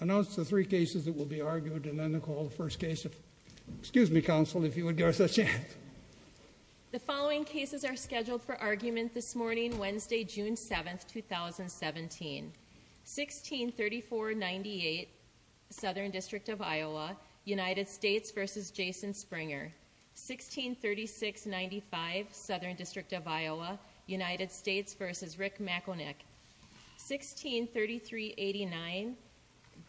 Announce the three cases that will be argued and then the call the first case of excuse me counsel if you would give us a chance The following cases are scheduled for argument this morning Wednesday, June 7th 2017 16 34 98 Southern District of Iowa United States versus Jason Springer 16 36 95 Southern District of Iowa United States versus Rick McIlnick 16 33 89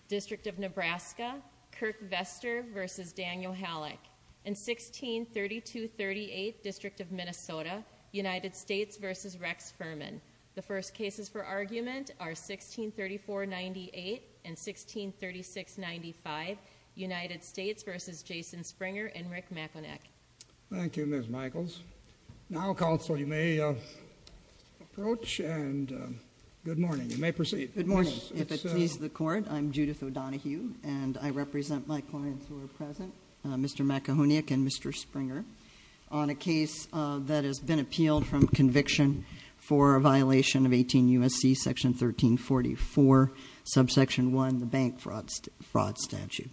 District of Nebraska Kirk Vestor versus Daniel Halleck in 16 32 38 District of Minnesota United States versus Rex Furman the first cases for argument are 16 34 98 and 16 36 95 United States versus Jason Springer and Rick McIlnick Thank You miss Michaels now counsel you may approach and Good morning, you may proceed I'm Judith O'Donohue and I represent my clients who are present. Mr. McIlnick and mr Springer on a case that has been appealed from conviction for a violation of 18 USC section 1344 subsection 1 the bank fraud fraud statute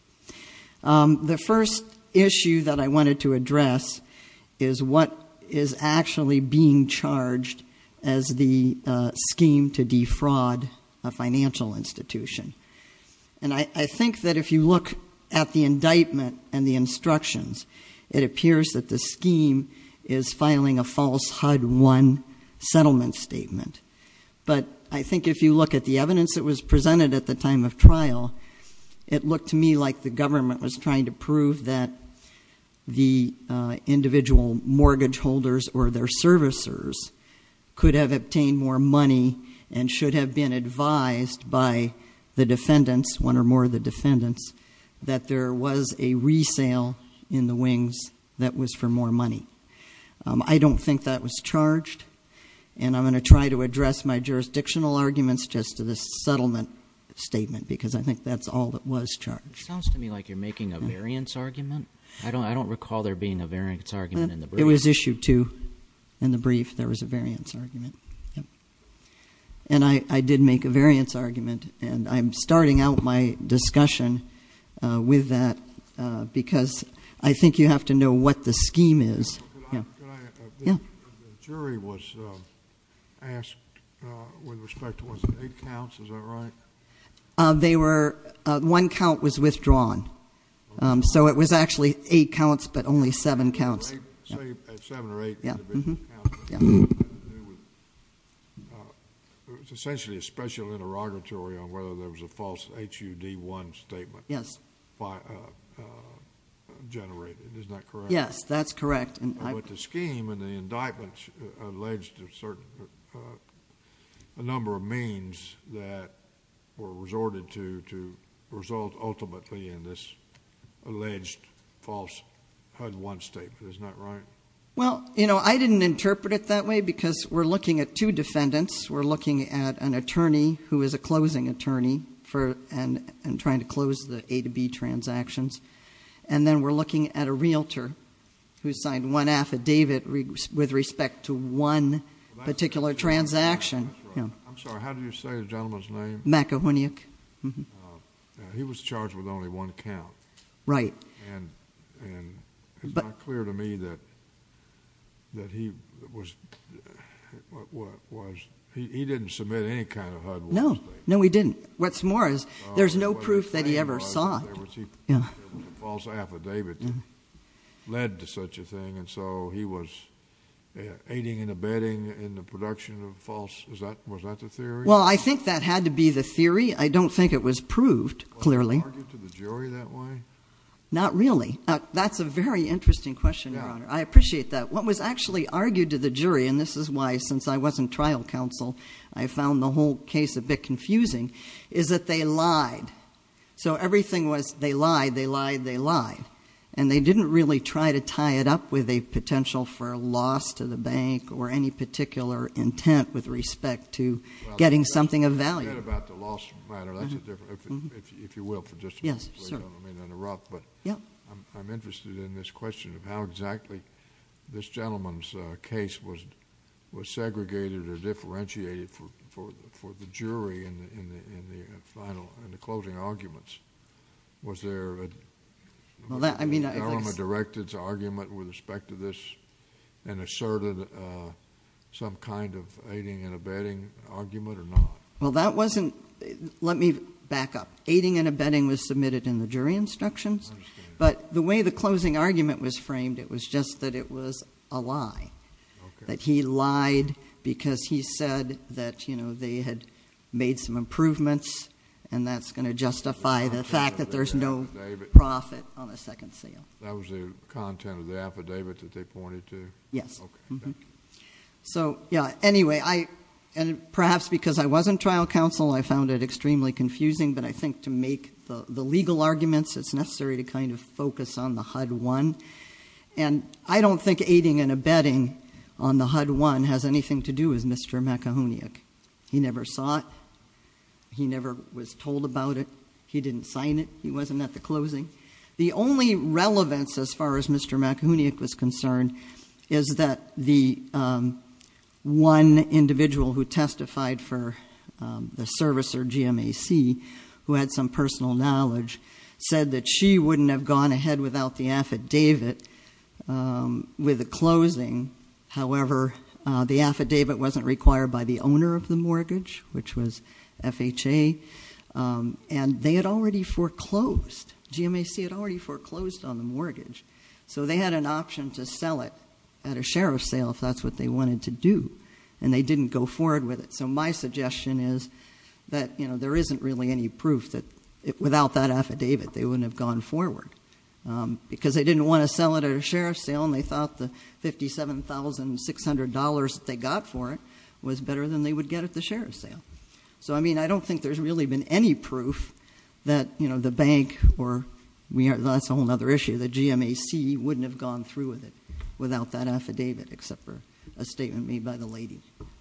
the first issue that I wanted to address is what is actually being charged as the scheme to defraud a financial institution and I think that if you look at the indictment and the instructions it appears that the scheme is filing a false HUD one Settlement statement, but I think if you look at the evidence that was presented at the time of trial it looked to me like the government was trying to prove that the individual mortgage holders or their servicers Could have obtained more money and should have been advised by the defendants one or more of the defendants That there was a resale in the wings that was for more money I don't think that was charged and I'm going to try to address my jurisdictional arguments just to this settlement Statement because I think that's all that was charged to me like you're making a variance argument I don't I don't recall there being a variance argument and it was issued to in the brief there was a variance argument and I I did make a variance argument and I'm starting out my discussion with that Because I think you have to know what the scheme is They were one count was withdrawn so it was actually eight counts but only seven counts It was essentially a special interrogatory on whether there was a false HUD one statement yes Yes, that's correct and I put the scheme and the indictments alleged to certain a number of means that were resorted to to result ultimately in this alleged false HUD one statement, isn't that right? Well, you know, I didn't interpret it that way because we're looking at two defendants We're looking at an attorney who is a closing attorney for and I'm trying to close the a to b transactions And then we're looking at a realtor who signed one affidavit with respect to one Particular transaction. I'm sorry. How do you say the gentleman's name Maka when you? He was charged with only one count, right? But clear to me that that he was Was he didn't submit any kind of no, no, we didn't what's more is there's no proof that he ever saw Led to such a thing and so he was Aiding and abetting in the production of false. Is that was that the theory? Well, I think that had to be the theory. I don't think it was proved clearly That way Not really, but that's a very interesting question. I appreciate that What was actually argued to the jury and this is why since I wasn't trial counsel I found the whole case a bit confusing is that they lied So everything was they lied they lied they lied and they didn't really try to tie it up with a potential for a loss To the bank or any particular intent with respect to getting something of value I mean in a rough, but yeah, I'm interested in this question of how exactly this gentleman's case was was segregated or differentiated for the jury and final and the closing arguments was there Well that I mean I'm a directives argument with respect to this and asserted Some kind of aiding and abetting Well, that wasn't let me back up aiding and abetting was submitted in the jury instructions But the way the closing argument was framed. It was just that it was a lie That he lied because he said that you know They had made some improvements and that's going to justify the fact that there's no Profit on the second sale. That was the content of the affidavit that they pointed to yes So, yeah, anyway, I and perhaps because I wasn't trial counsel I found it extremely confusing, but I think to make the legal arguments It's necessary to kind of focus on the HUD one and I don't think aiding and abetting on the HUD One has anything to do is mr. McIlwain yak. He never saw it He never was told about it. He didn't sign it. He wasn't at the closing the only Relevance as far as mr. McIlwain yak was concerned is that the one individual who testified for The service or GMAC who had some personal knowledge said that she wouldn't have gone ahead without the affidavit With the closing. However, the affidavit wasn't required by the owner of the mortgage, which was FHA And they had already foreclosed GMAC had already foreclosed on the mortgage So they had an option to sell it at a sheriff's sale if that's what they wanted to do And they didn't go forward with it So my suggestion is that you know, there isn't really any proof that it without that affidavit. They wouldn't have gone forward Because they didn't want to sell it at a sheriff's sale and they thought the fifty seven thousand six hundred dollars They got for it was better than they would get at the sheriff's sale So, I mean, I don't think there's really been any proof that you know the bank or we are that's a whole nother issue The GMAC wouldn't have gone through with it without that affidavit except for a statement made by the lady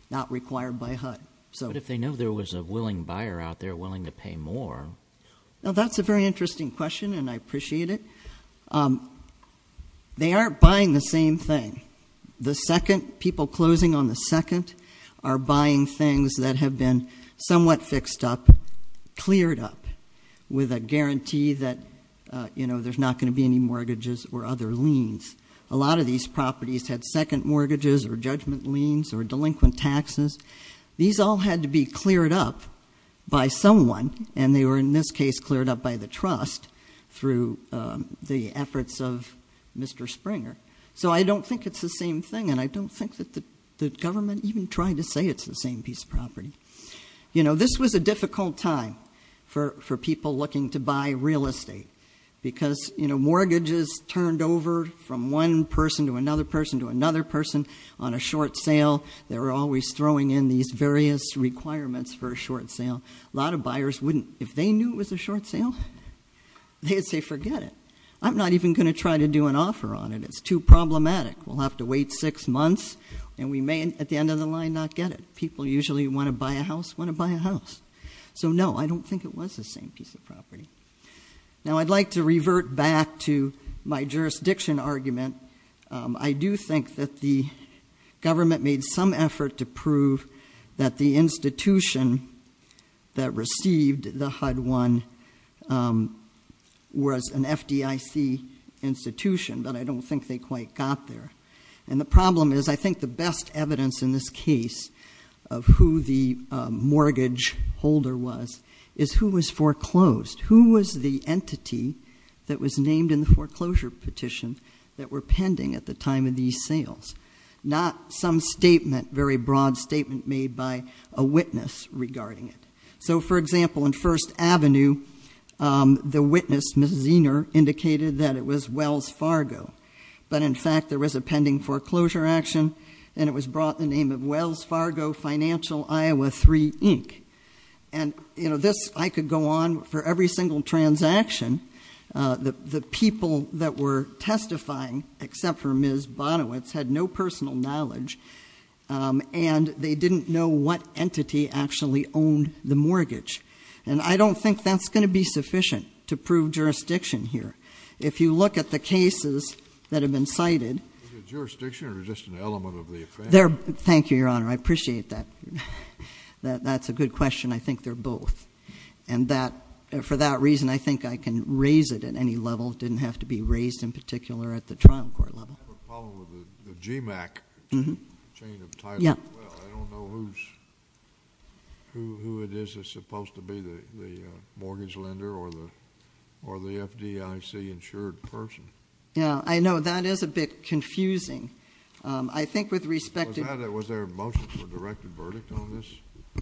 Not required by HUD. So if they know there was a willing buyer out there willing to pay more Now that's a very interesting question, and I appreciate it They aren't buying the same thing The second people closing on the second are buying things that have been somewhat fixed up cleared up with a guarantee that You know There's not going to be any mortgages or other liens a lot of these properties had second mortgages or judgment liens or delinquent taxes These all had to be cleared up By someone and they were in this case cleared up by the trust through the efforts of mr Springer so I don't think it's the same thing and I don't think that the government even tried to say it's the same piece of Property, you know, this was a difficult time for people looking to buy real estate Because you know mortgages turned over from one person to another person to another person on a short sale They were always throwing in these various requirements for a short sale. A lot of buyers wouldn't if they knew it was a short sale They'd say forget it I'm not even going to try to do an offer on it, it's too problematic We'll have to wait six months And we may at the end of the line not get it people usually want to buy a house want to buy a house So no, I don't think it was the same piece of property Now I'd like to revert back to my jurisdiction argument. I do think that the Government made some effort to prove that the institution That received the HUD one Was an FDIC Institution, but I don't think they quite got there and the problem is I think the best evidence in this case of who the Mortgage holder was is who was foreclosed who was the entity? That was named in the foreclosure petition that were pending at the time of these sales Not some statement very broad statement made by a witness regarding it. So for example in First Avenue The witness mrs. Zener indicated that it was Wells Fargo but in fact there was a pending foreclosure action and it was brought the name of Wells Fargo Financial, Iowa 3 Inc and You know this I could go on for every single transaction The the people that were testifying except for ms. Bonowitz had no personal knowledge And they didn't know what entity actually owned the mortgage and I don't think that's going to be sufficient to prove Jurisdiction here. If you look at the cases that have been cited There thank you your honor, I appreciate that That's a good question I think they're both and That for that reason I think I can raise it at any level didn't have to be raised in particular at the trial court level G Mac Who it is it's supposed to be the Mortgage lender or the or the FDIC insured person. Yeah, I know that is a bit confusing I think with respect to that it was there a motion for a directed verdict on this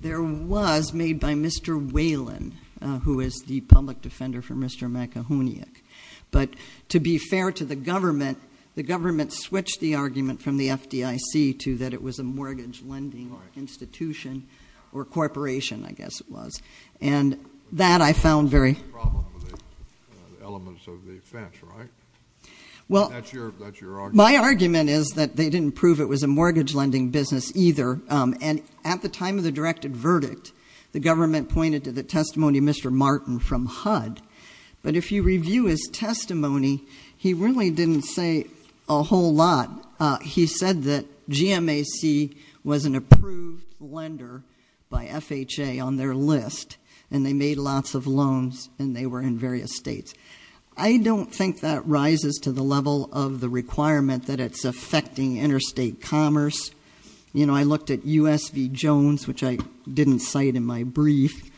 there was made by mr Whalen who is the public defender for mr. McIlwain? But to be fair to the government the government switched the argument from the FDIC to that it was a mortgage lending or institution or corporation, I guess it was and that I found very Well My argument is that they didn't prove it was a mortgage lending business either And at the time of the directed verdict the government pointed to the testimony. Mr. Martin from HUD But if you review his testimony, he really didn't say a whole lot He said that GM AC was an approved lender By FHA on their list and they made lots of loans and they were in various states I don't think that rises to the level of the requirement that it's affecting interstate commerce you know, I looked at USB Jones, which I didn't cite in my brief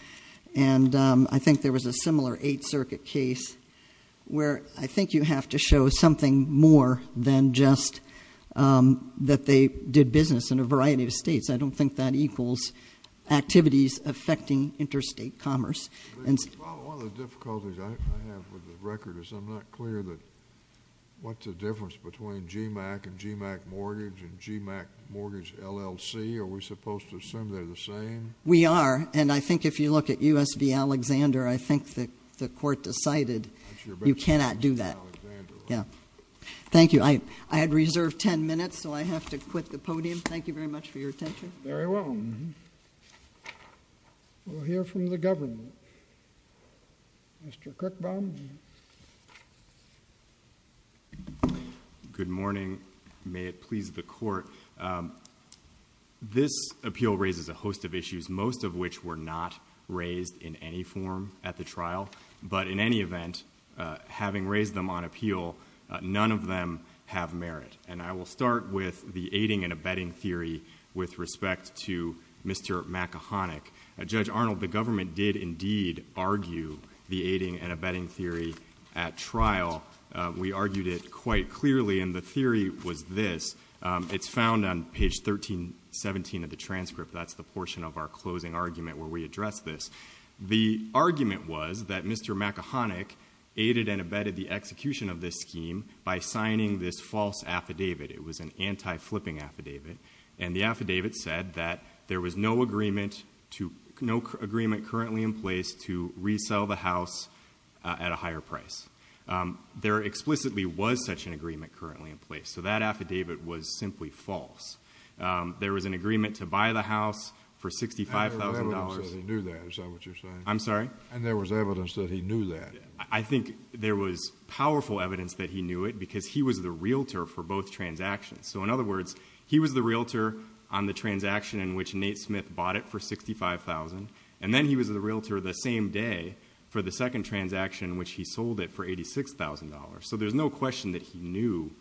and I think there was a similar Eighth Circuit case where I think you have to show something more than just That they did business in a variety of states. I don't think that equals activities affecting interstate commerce and Record is I'm not clear that What's the difference between GMAC and GMAC mortgage and GMAC mortgage LLC? We're supposed to assume they're the same we are and I think if you look at USB Alexander I think that the court decided you cannot do that. Yeah Thank you. I I had reserved ten minutes. So I have to quit the podium. Thank you very much for your attention. Very well We'll hear from the government Mr. Cook bomb Good morning, may it please the court? This appeal raises a host of issues. Most of which were not raised in any form at the trial, but in any event Having raised them on appeal None of them have merit and I will start with the aiding and abetting theory with respect to mr Makahonic a judge Arnold the government did indeed argue the aiding and abetting theory at trial We argued it quite clearly and the theory was this it's found on page 1317 of the transcript. That's the portion of our closing argument where we address this the argument was that mr Makahonic aided and abetted the execution of this scheme by signing this false affidavit It was an anti flipping affidavit and the affidavit said that there was no agreement to no Agreement currently in place to resell the house at a higher price There explicitly was such an agreement currently in place. So that affidavit was simply false There was an agreement to buy the house for $65,000 I'm sorry, and there was evidence that he knew that I think there was powerful evidence that he knew it because he was the realtor For both transactions. So in other words, he was the realtor on the transaction in which Nate Smith bought it for 65,000 and then he was the realtor the same day for the second transaction, which he sold it for $86,000 so there's no question that he knew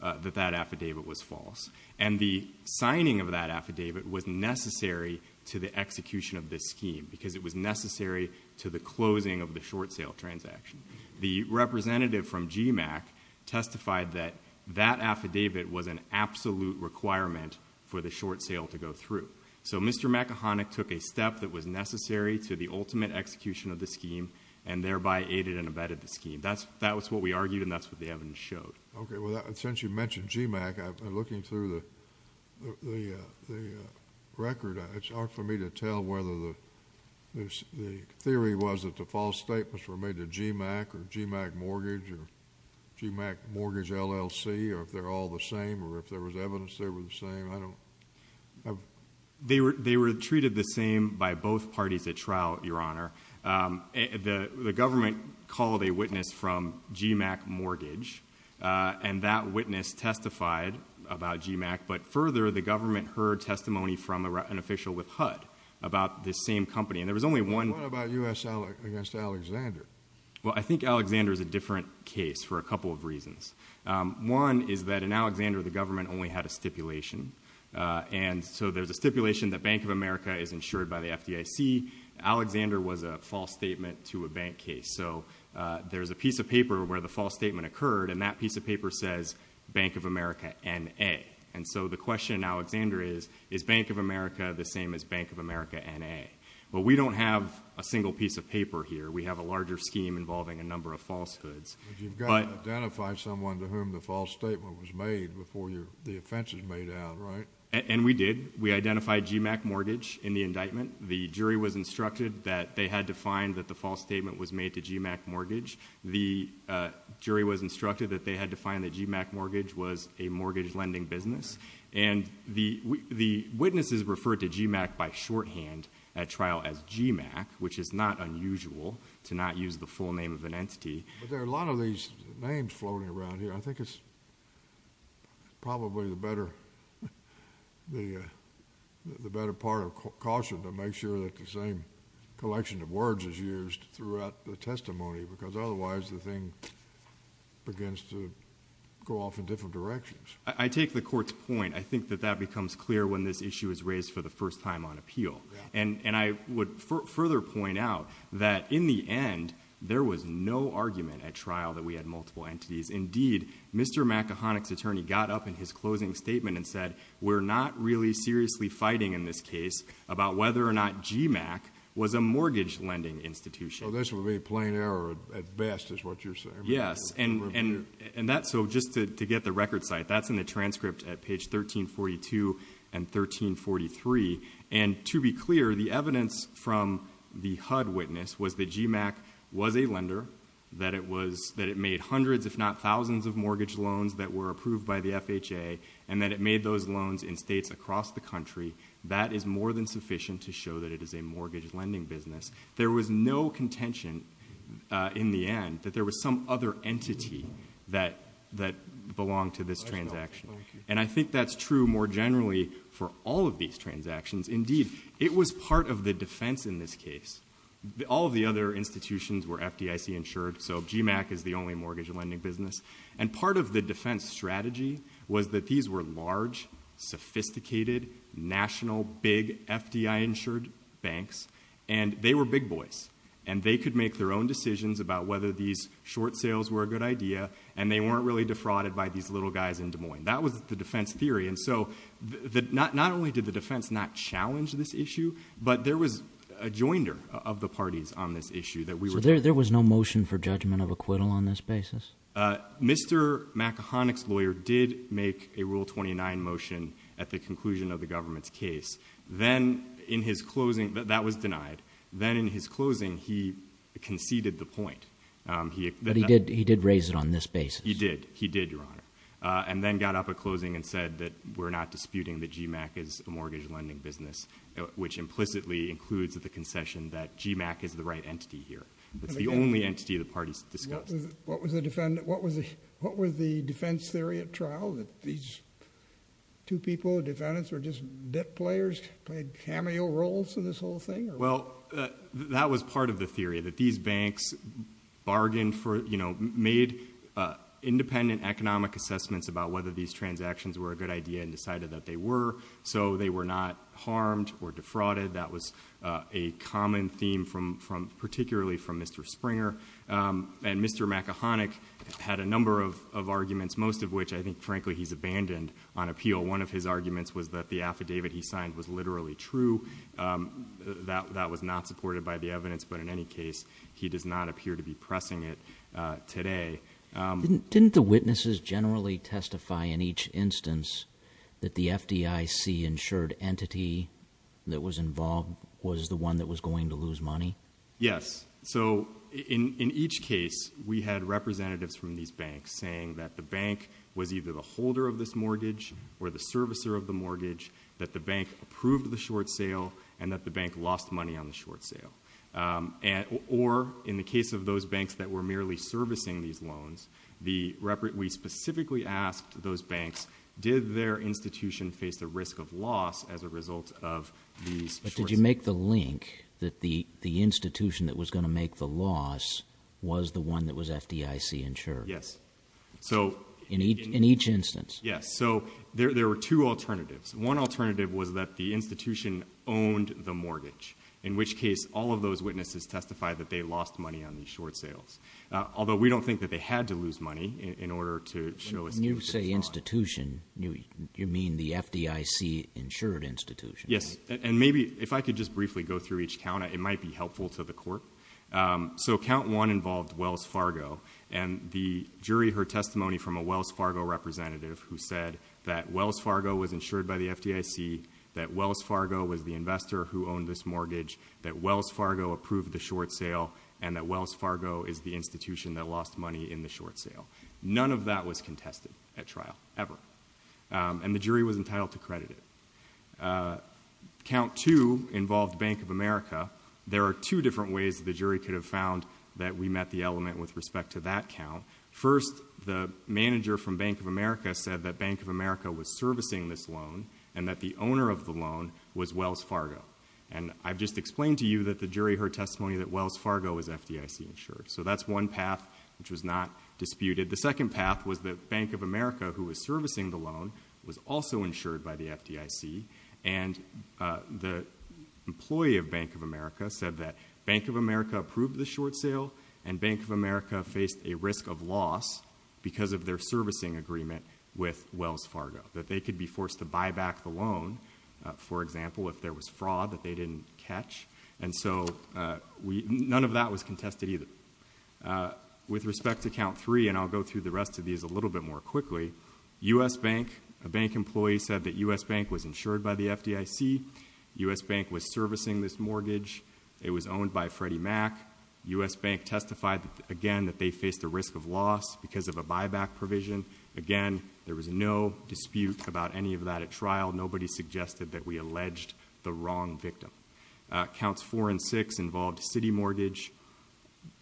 that that affidavit was false and the Signing of that affidavit was necessary to the execution of this scheme because it was necessary to the closing of the short sale transaction the representative from GMAC Testified that that affidavit was an absolute requirement for the short sale to go through. So mr Makahonic took a step that was necessary to the ultimate execution of the scheme and thereby aided and abetted the scheme That's that was what we argued and that's what the evidence showed. Okay. Well that essentially mentioned GMAC. I'm looking through the the record, it's hard for me to tell whether the Theory was that the false statements were made to GMAC or GMAC mortgage or GMAC mortgage LLC or if they're all the same or if there was evidence they were the same I don't They were they were treated the same by both parties at trial your honor The the government called a witness from GMAC mortgage And that witness testified about GMAC But further the government heard testimony from an official with HUD about this same company and there was only one Well, I think Alexander is a different case for a couple of reasons One is that in Alexander the government only had a stipulation And so there's a stipulation that Bank of America is insured by the FDIC Alexander was a false statement to a bank case There's a piece of paper where the false statement occurred and that piece of paper says Bank of America and a and so the question Alexander is is Bank of America the same as Bank of America and a but we don't have a single piece of paper here We have a larger scheme involving a number of falsehoods Identify someone to whom the false statement was made before you the offense is made out, right? And we did we identified GMAC mortgage in the indictment the jury was instructed that they had to find that the false statement was made to GMAC mortgage the jury was instructed that they had to find that GMAC mortgage was a mortgage lending business and The the witnesses referred to GMAC by shorthand at trial as GMAC Which is not unusual to not use the full name of an entity, but there are a lot of these names floating around here I think it's Probably the better the Sure that the same collection of words is used throughout the testimony because otherwise the thing Begins to go off in different directions. I take the court's point I think that that becomes clear when this issue is raised for the first time on appeal and and I would Further point out that in the end. There was no argument at trial that we had multiple entities indeed Mr McIronic's attorney got up in his closing statement and said we're not really seriously fighting in this case about whether or not GMAC was a mortgage lending institution. This would be a plain error at best is what you're saying Yes, and and and that's so just to get the record site. That's in the transcript at page 13 42 and 1343 and to be clear the evidence from the HUD witness was the GMAC was a lender That it was that it made hundreds if not thousands of mortgage loans that were approved by the FHA and that it made those loans In states across the country that is more than sufficient to show that it is a mortgage lending business. There was no contention In the end that there was some other entity that that belonged to this transaction And I think that's true more generally for all of these transactions. Indeed. It was part of the defense in this case All of the other institutions were FDIC insured So GMAC is the only mortgage lending business and part of the defense strategy was that these were large sophisticated national big FDI insured banks and they were big boys and they could make their own decisions about whether these Short sales were a good idea and they weren't really defrauded by these little guys in Des Moines That was the defense theory. And so the not not only did the defense not challenge this issue But there was a joinder of the parties on this issue that we were there. There was no motion for judgment of acquittal on this basis Mr. Makah onyx lawyer did make a rule 29 motion at the conclusion of the government's case Then in his closing, but that was denied then in his closing he conceded the point He did he did raise it on this base He did he did your honor and then got up at closing and said that we're not disputing the GMAC is a mortgage lending business Which implicitly includes at the concession that GMAC is the right entity here. It's the only entity the parties discussed What was the defendant? What was it? What was the defense theory at trial that these? Two people defendants were just debt players played cameo roles for this whole thing. Well, that was part of the theory that these banks bargained for you know made Independent economic assessments about whether these transactions were a good idea and decided that they were so they were not harmed defrauded that was a Common theme from from particularly from mr. Springer And mr. Mac a Hanuk had a number of arguments most of which I think frankly He's abandoned on appeal. One of his arguments was that the affidavit he signed was literally true That that was not supported by the evidence. But in any case he does not appear to be pressing it today Didn't the witnesses generally testify in each instance that the FDIC insured entity That was involved was the one that was going to lose money. Yes So in in each case We had representatives from these banks saying that the bank was either the holder of this mortgage Or the servicer of the mortgage that the bank approved the short sale and that the bank lost money on the short sale and or in the case of those banks that were merely servicing these loans the We specifically asked those banks did their institution face the risk of loss as a result of Did you make the link that the the institution that was going to make the loss? Was the one that was FDIC insured? Yes, so in each in each instance Yes So there were two alternatives one alternative was that the institution owned the mortgage in which case all of those witnesses Testify that they lost money on these short sales Although we don't think that they had to lose money in order to show you say institution you you mean the FDIC Insured institution. Yes, and maybe if I could just briefly go through each count. It might be helpful to the court So count one involved Wells Fargo and the jury heard testimony from a Wells Fargo Representative who said that Wells Fargo was insured by the FDIC That Wells Fargo was the investor who owned this mortgage that Wells Fargo approved the short sale and that Wells Fargo is the Institution that lost money in the short sale. None of that was contested at trial ever And the jury was entitled to credit it Count to involve Bank of America There are two different ways that the jury could have found that we met the element with respect to that count First the manager from Bank of America said that Bank of America was servicing this loan and that the owner of the loan Was Wells Fargo and I've just explained to you that the jury heard testimony that Wells Fargo is FDIC insured So that's one path which was not disputed the second path was the Bank of America who was servicing the loan was also insured by the FDIC and the Employee of Bank of America said that Bank of America approved the short sale and Bank of America faced a risk of loss Because of their servicing agreement with Wells Fargo that they could be forced to buy back the loan for example If there was fraud that they didn't catch and so we none of that was contested either With respect to count three and I'll go through the rest of these a little bit more quickly US Bank a bank employee said that US Bank was insured by the FDIC US Bank was servicing this mortgage It was owned by Freddie Mac US Bank testified again that they faced the risk of loss because of a buyback provision again There was no dispute about any of that at trial. Nobody suggested that we alleged the wrong victim counts four and six involved City Mortgage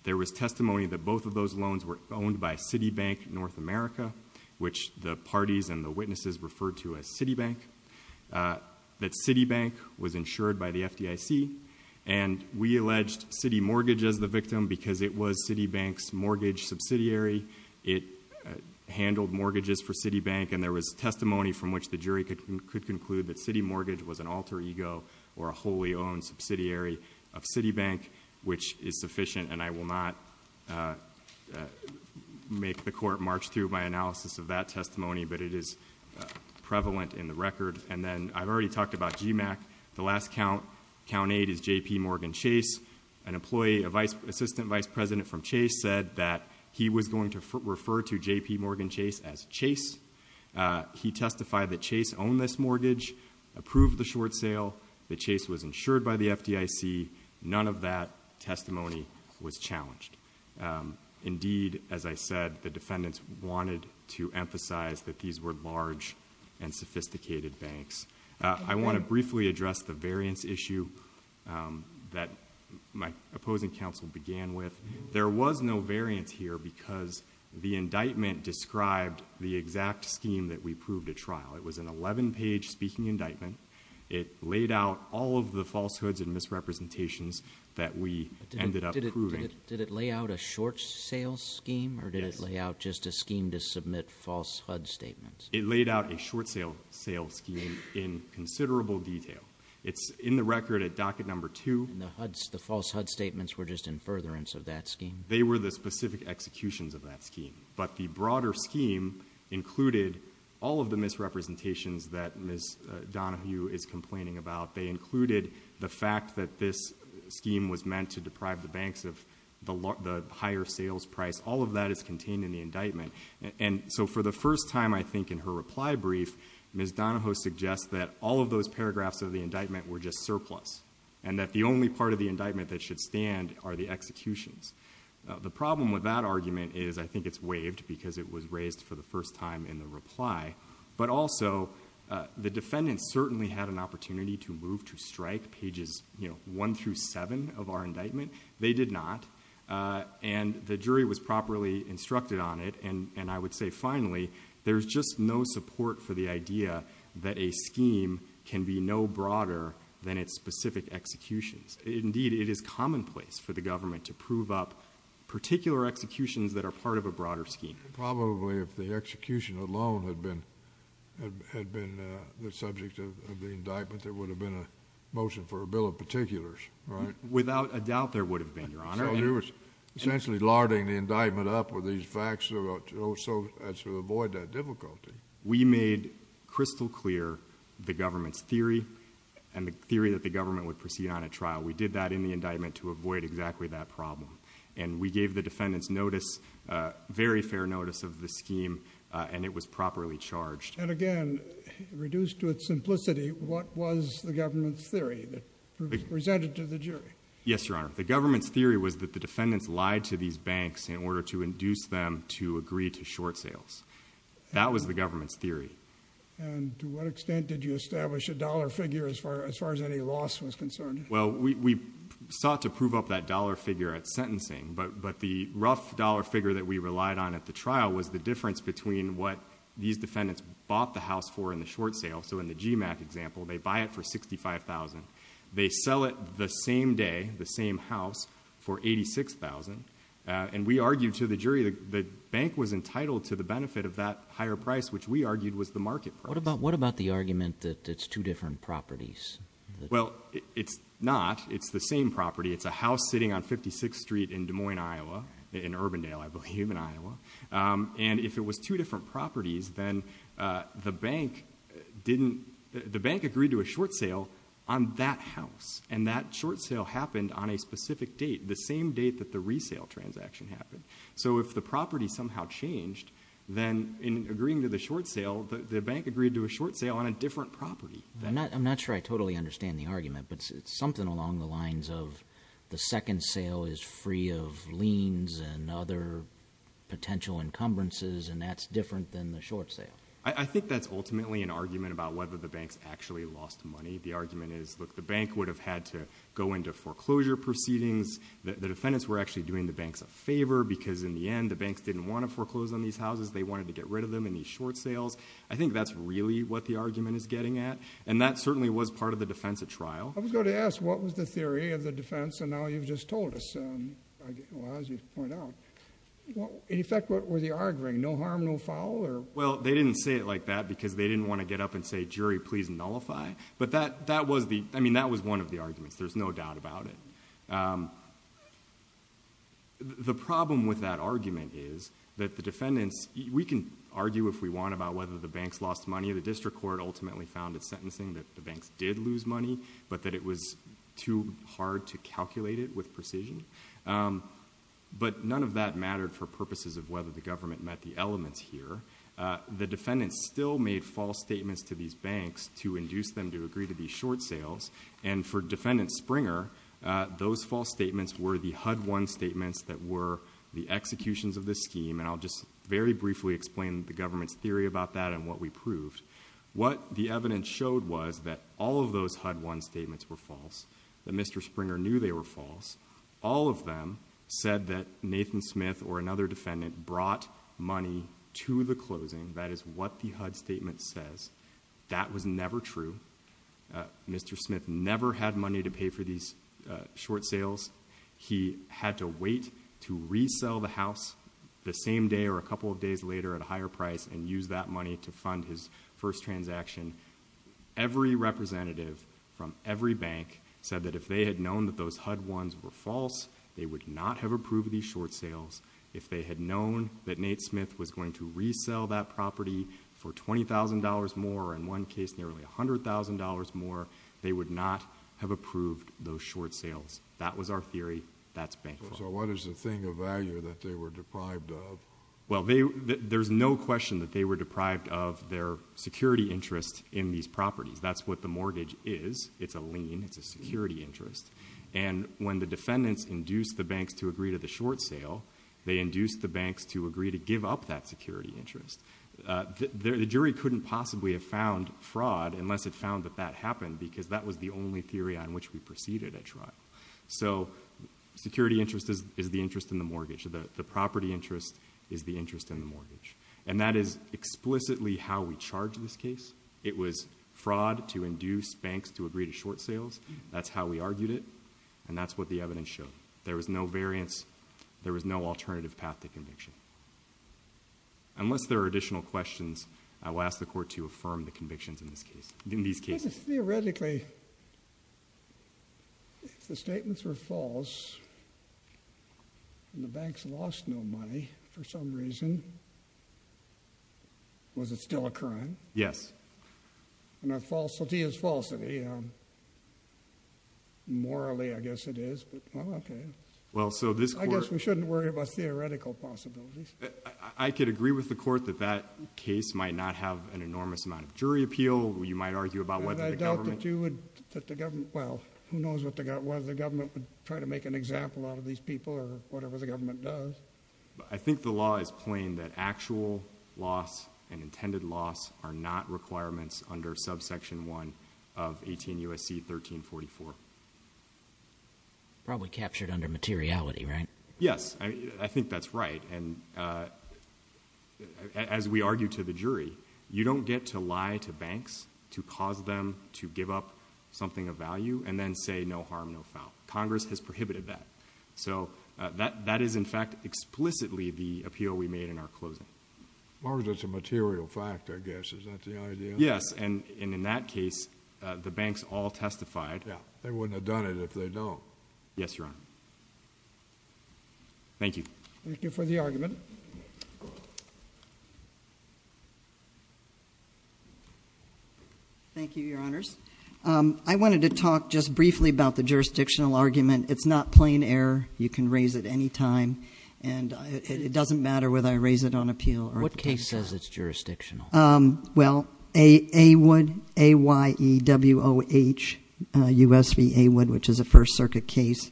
There was testimony that both of those loans were owned by Citibank North America Which the parties and the witnesses referred to as Citibank? that Citibank was insured by the FDIC and We alleged City Mortgage as the victim because it was Citibank's mortgage subsidiary it Handled mortgages for Citibank and there was testimony from which the jury could conclude that City Mortgage was an alter ego or a wholly Owned subsidiary of Citibank, which is sufficient and I will not Make the court march through by analysis of that testimony, but it is Prevalent in the record and then I've already talked about GMAC the last count Count eight is JP Morgan Chase an employee a vice assistant vice president from Chase said that he was going to refer to JP Morgan Chase as Chase He testified that Chase owned this mortgage Approved the short sale the chase was insured by the FDIC None of that testimony was challenged Indeed, as I said the defendants wanted to emphasize that these were large and sophisticated banks I want to briefly address the variance issue That my opposing counsel began with there was no variance here because The indictment described the exact scheme that we proved a trial. It was an 11 page speaking indictment It laid out all of the falsehoods and misrepresentations That we ended up did it lay out a short sale scheme or did it lay out just a scheme to submit false? HUD statements it laid out a short sale sale scheme in The record at docket number two the HUD's the false HUD statements were just in furtherance of that scheme They were the specific executions of that scheme, but the broader scheme Included all of the misrepresentations that miss Donahue is complaining about they included the fact that this Scheme was meant to deprive the banks of the higher sales price All of that is contained in the indictment and so for the first time I think in her reply brief Miss Donahoe suggests that all of those paragraphs of the indictment were just surplus and that the only part of the indictment that should stand Are the executions? The problem with that argument is I think it's waived because it was raised for the first time in the reply but also The defendants certainly had an opportunity to move to strike pages, you know, one through seven of our indictment. They did not And the jury was properly instructed on it And I would say finally there's just no support for the idea that a scheme can be no broader than its specific Executions indeed. It is commonplace for the government to prove up particular executions that are part of a broader scheme probably if the execution alone had been Had been the subject of the indictment. There would have been a motion for a bill of particulars All right without a doubt there would have been your honor Essentially larding the indictment up with these facts about so as to avoid that difficulty we made Crystal clear the government's theory and the theory that the government would proceed on a trial We did that in the indictment to avoid exactly that problem and we gave the defendants notice Very fair notice of the scheme and it was properly charged and again Reduced to its simplicity. What was the government's theory? Presented to the jury Yes, your honor The government's theory was that the defendants lied to these banks in order to induce them to agree to short sales That was the government's theory And to what extent did you establish a dollar figure as far as far as any loss was concerned? Well, we sought to prove up that dollar figure at sentencing But but the rough dollar figure that we relied on at the trial was the difference between what? These defendants bought the house for in the short sale. So in the GMAC example, they buy it for $65,000 they sell it the same day the same house for 86,000 and we argued to the jury that the bank was entitled to the benefit of that higher price Which we argued was the market. What about what about the argument that it's two different properties? Well, it's not it's the same property. It's a house sitting on 56th Street in Des Moines, Iowa in Urbandale I believe in Iowa and if it was two different properties then the bank Didn't the bank agreed to a short sale on that house and that short sale happened on a specific date the same date that the resale transaction happened So if the property somehow changed then in agreeing to the short sale the bank agreed to a short sale on a different property I'm not I'm not sure. I totally understand the argument, but it's something along the lines of the second sale is free of liens and other Potential encumbrances and that's different than the short sale I think that's ultimately an argument about whether the banks actually lost money The argument is look the bank would have had to go into foreclosure Proceedings that the defendants were actually doing the banks a favor because in the end the banks didn't want to foreclose on these houses They wanted to get rid of them in these short sales I think that's really what the argument is getting at and that certainly was part of the defense at trial I'm going to ask what was the theory of the defense and now you've just told us As you point out In effect, what were the arguing no harm no foul or well They didn't say it like that because they didn't want to get up and say jury, please nullify But that that was the I mean that was one of the arguments. There's no doubt about it The problem with that argument is that the defendants we can argue if we want about whether the banks lost money or the district court Ultimately found its sentencing that the banks did lose money, but that it was too hard to calculate it with precision But none of that mattered for purposes of whether the government met the elements here The defendants still made false statements to these banks to induce them to agree to these short sales and for defendant Springer Those false statements were the HUD one statements that were the executions of this scheme And I'll just very briefly explain the government's theory about that and what we proved What the evidence showed was that all of those HUD one statements were false the mr. Springer knew they were false All of them said that Nathan Smith or another defendant brought money to the closing That is what the HUD statement says. That was never true Mr. Smith never had money to pay for these short sales He had to wait to resell the house The same day or a couple of days later at a higher price and use that money to fund his first transaction Every representative from every bank said that if they had known that those HUD ones were false They would not have approved these short sales if they had known that Nate Smith was going to resell that property For $20,000 more in one case nearly a hundred thousand dollars more. They would not have approved those short sales That was our theory. That's bank. So what is the thing of value that they were deprived of well There's no question that they were deprived of their security interest in these properties, that's what the mortgage is. It's a lien It's a security interest and when the defendants induced the banks to agree to the short sale They induced the banks to agree to give up that security interest The jury couldn't possibly have found fraud unless it found that that happened because that was the only theory on which we proceeded a trial so Property interest is the interest in the mortgage and that is explicitly how we charge in this case It was fraud to induce banks to agree to short sales That's how we argued it and that's what the evidence showed. There was no variance. There was no alternative path to conviction Unless there are additional questions. I will ask the court to affirm the convictions in this case in these cases theoretically The statements were false And the banks lost no money for some reason Was it still a crime? Yes, and that falsity is falsity Morally I guess it is Well, so this I guess we shouldn't worry about theoretical possibilities I could agree with the court that that case might not have an enormous amount of jury appeal You might argue about what I doubt that you would that the government well Who knows what they got whether the government would try to make an example out of these people or whatever the government does I think the law is plain that actual loss and intended loss are not requirements under subsection 1 of 18 USC 1344 Probably captured under materiality, right? Yes. I think that's right and As we argue to the jury You don't get to lie to banks to cause them to give up something of value and then say no harm No foul Congress has prohibited that so that that is in fact explicitly the appeal we made in our closing Mark, that's a material fact. I guess is that the idea? Yes, and in that case the banks all testified Yeah, they wouldn't have done it if they don't yes, Your Honor Thank you, thank you for the argument I Wanted to talk just briefly about the jurisdictional argument, it's not plain error You can raise it any time and it doesn't matter whether I raise it on appeal or what case says it's jurisdictional well, a a would a y e w o h Usva would which is a First Circuit case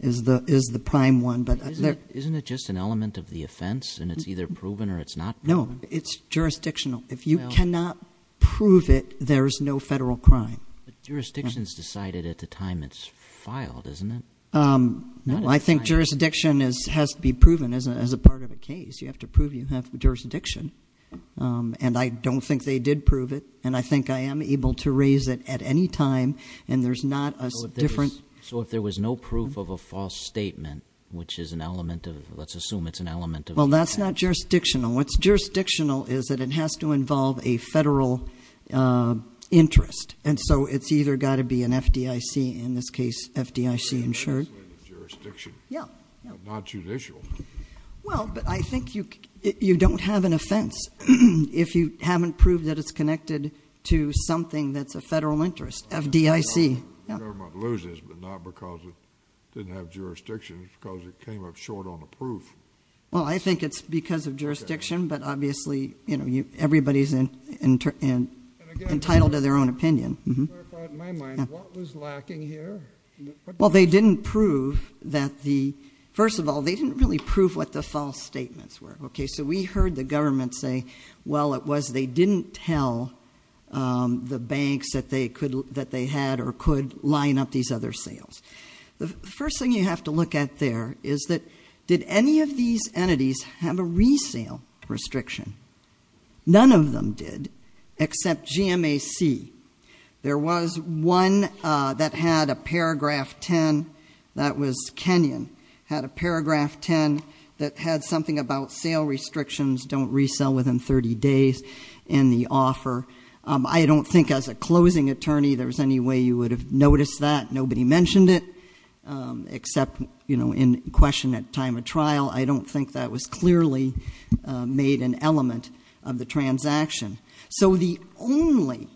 is the is the prime one Isn't it just an element of the offense and it's either proven or it's not no, it's jurisdictional if you cannot prove it There's no federal crime Jurisdictions decided at the time. It's filed, isn't it? No, I think jurisdiction is has to be proven as a part of a case. You have to prove you have the jurisdiction And I don't think they did prove it and I think I am able to raise it at any time and there's not a different So if there was no proof of a false statement, which is an element of let's assume it's an element of well That's not jurisdictional. What's jurisdictional? Is that it has to involve a federal? Interest and so it's either got to be an FDIC in this case FDIC insured Well, but I think you you don't have an offense if you haven't proved that it's connected to something that's a federal interest FDIC Well, I think it's because of jurisdiction but obviously, you know you everybody's in and entitled to their own opinion Well, they didn't prove that the first of all they didn't really prove what the false statements were Okay, so we heard the government say well it was they didn't tell The banks that they could that they had or could line up these other sales The first thing you have to look at there. Is that did any of these entities have a resale? restriction None of them did except GMAC There was one that had a paragraph 10 That was Kenyon had a paragraph 10 that had something about sale restrictions Don't resell within 30 days in the offer. I don't think as a closing attorney There was any way you would have noticed that nobody mentioned it Except you know in question at time of trial. I don't think that was clearly Made an element of the transaction. So the only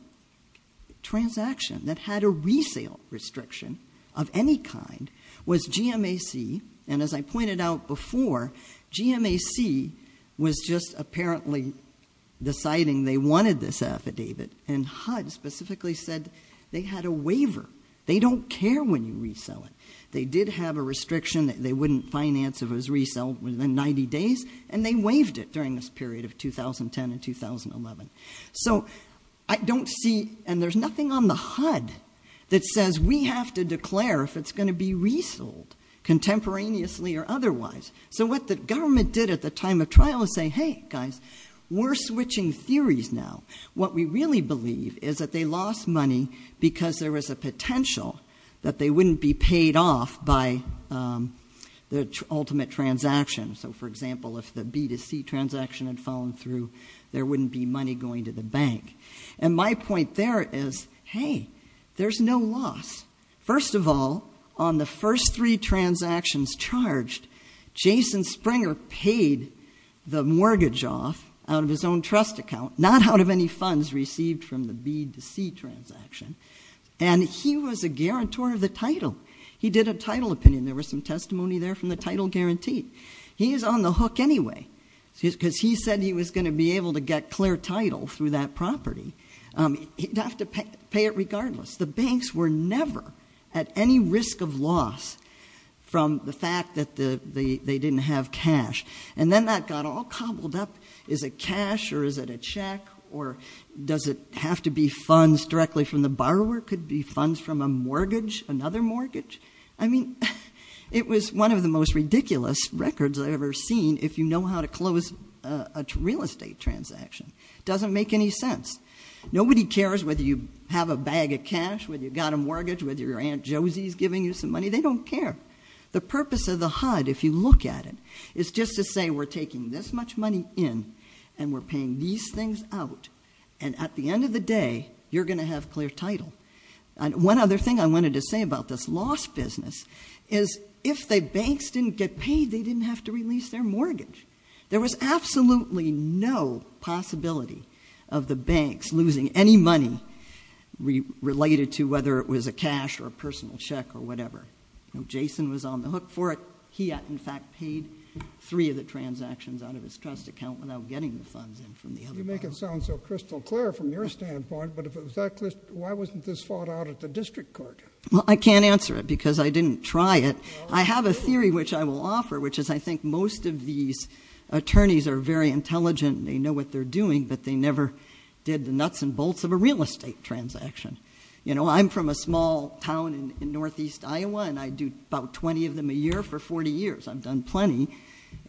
Transaction that had a resale restriction of any kind was GMAC and as I pointed out before GMAC was just apparently Deciding they wanted this affidavit and HUD specifically said they had a waiver. They don't care when you resell it They did have a restriction that they wouldn't finance if it was resell within 90 days and they waived it during this period of 2010 and 2011 So I don't see and there's nothing on the HUD that says we have to declare if it's going to be resold Contemporaneously or otherwise so what the government did at the time of trial and say hey guys We're switching theories now what we really believe is that they lost money because there was a potential that they wouldn't be paid off by the ultimate Transaction. So for example, if the B to C transaction had fallen through there wouldn't be money going to the bank and my point There is hey, there's no loss First of all on the first three transactions charged Jason Springer paid the mortgage off out of his own trust account not out of any funds received from the B to C transaction and He was a guarantor of the title. He did a title opinion. There was some testimony there from the title guarantee He is on the hook anyway, because he said he was going to be able to get clear title through that property He'd have to pay it regardless the banks were never at any risk of loss From the fact that the they didn't have cash and then that got all cobbled up Is it cash or is it a check or? Does it have to be funds directly from the borrower could be funds from a mortgage another mortgage? I mean it was one of the most ridiculous records I've ever seen if you know how to close a real estate Transaction doesn't make any sense Nobody cares whether you have a bag of cash when you've got a mortgage with your aunt Josie's giving you some money They don't care the purpose of the HUD if you look at it It's just to say we're taking this much money in and we're paying these things out and at the end of the day You're gonna have clear title and one other thing. I wanted to say about this lost business is If the banks didn't get paid they didn't have to release their mortgage. There was absolutely no possibility of the banks losing any money Related to whether it was a cash or a personal check or whatever. No, Jason was on the hook for it He had in fact paid three of the transactions out of his trust account without getting the funds You make it sound so crystal clear from your standpoint, but if it was that why wasn't this fought out at the district court? Well, I can't answer it because I didn't try it. I have a theory which I will offer which is I think most of these Attorneys are very intelligent. They know what they're doing, but they never did the nuts and bolts of a real estate transaction You know, I'm from a small town in Northeast, Iowa, and I do about 20 of them a year for 40 years I've done plenty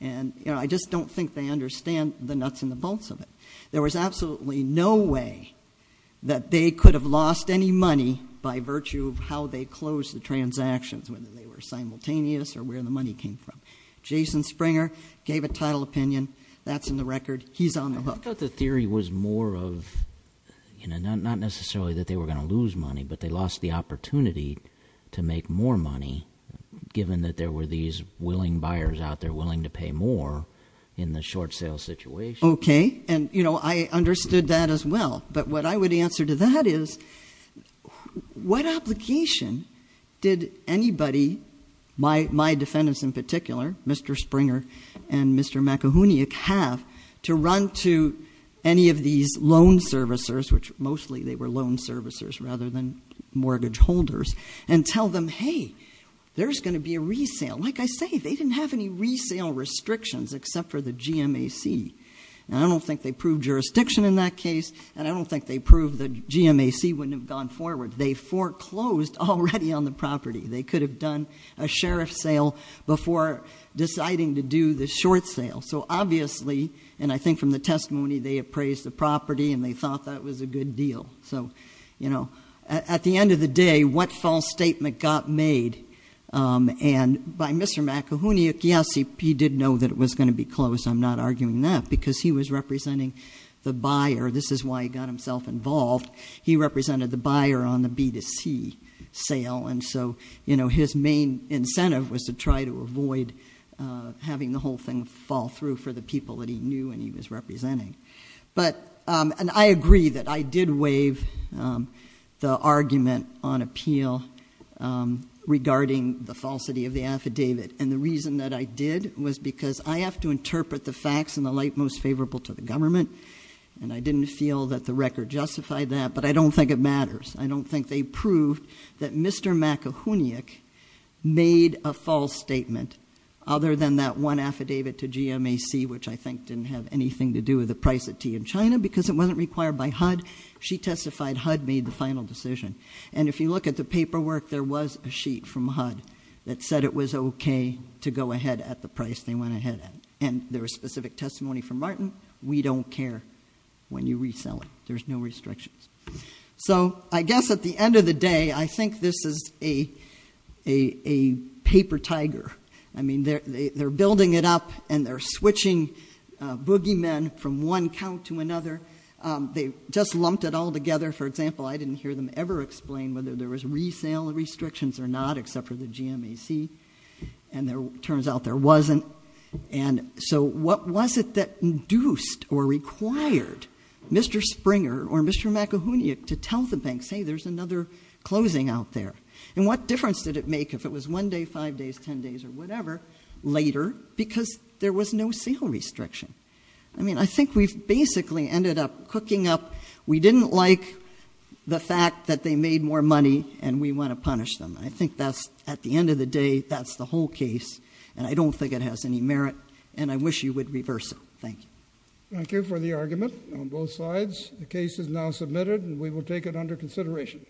and you know, I just don't think they understand the nuts and the bolts of it. There was absolutely no way That they could have lost any money by virtue of how they closed the transactions whether they were Opinion that's in the record. He's on the hook that the theory was more of You know not necessarily that they were going to lose money, but they lost the opportunity to make more money Given that there were these willing buyers out there willing to pay more in the short sale situation Okay, and you know, I understood that as well. But what I would answer to that is What application did anybody? My my defendants in particular, mr Springer and mr McEwney a calf to run to any of these loan servicers, which mostly they were loan servicers rather than Mortgage holders and tell them hey, there's going to be a resale Like I say, they didn't have any resale restrictions except for the GMA see and I don't think they proved Jurisdiction in that case and I don't think they proved the GMAC wouldn't have gone forward They foreclosed already on the property. They could have done a sheriff sale before Deciding to do the short sale. So obviously and I think from the testimony They appraised the property and they thought that was a good deal So, you know at the end of the day what false statement got made? And by mr. McEwney. Yes. He did know that it was going to be closed I'm not arguing that because he was representing the buyer. This is why he got himself involved He represented the buyer on the B to C sale. And so, you know, his main incentive was to try to avoid Having the whole thing fall through for the people that he knew and he was representing But and I agree that I did waive the argument on appeal Regarding the falsity of the affidavit and the reason that I did was because I have to interpret the facts in the light most That but I don't think it matters I don't think they proved that mr. McEwney Made a false statement other than that one affidavit to GMAC Which I think didn't have anything to do with the price of tea in China because it wasn't required by HUD She testified HUD made the final decision and if you look at the paperwork There was a sheet from HUD that said it was okay to go ahead at the price They went ahead and there was specific testimony from Martin. We don't care when you resell it There's no restrictions. So I guess at the end of the day, I think this is a a Paper tiger. I mean, they're building it up and they're switching Boogeymen from one count to another They just lumped it all together for example I didn't hear them ever explain whether there was resale restrictions or not except for the GMAC and There turns out there wasn't and so what was it that induced or required? Mr. Springer or mr. McEwney it to tell the bank say there's another Closing out there and what difference did it make if it was one day five days ten days or whatever? Later because there was no sale restriction. I mean, I think we've basically ended up cooking up. We didn't like The fact that they made more money and we want to punish them. I think that's at the end of the day That's the whole case and I don't think it has any merit and I wish you would reverse it. Thank you Thank you for the argument on both sides. The case is now submitted and we will take it under consideration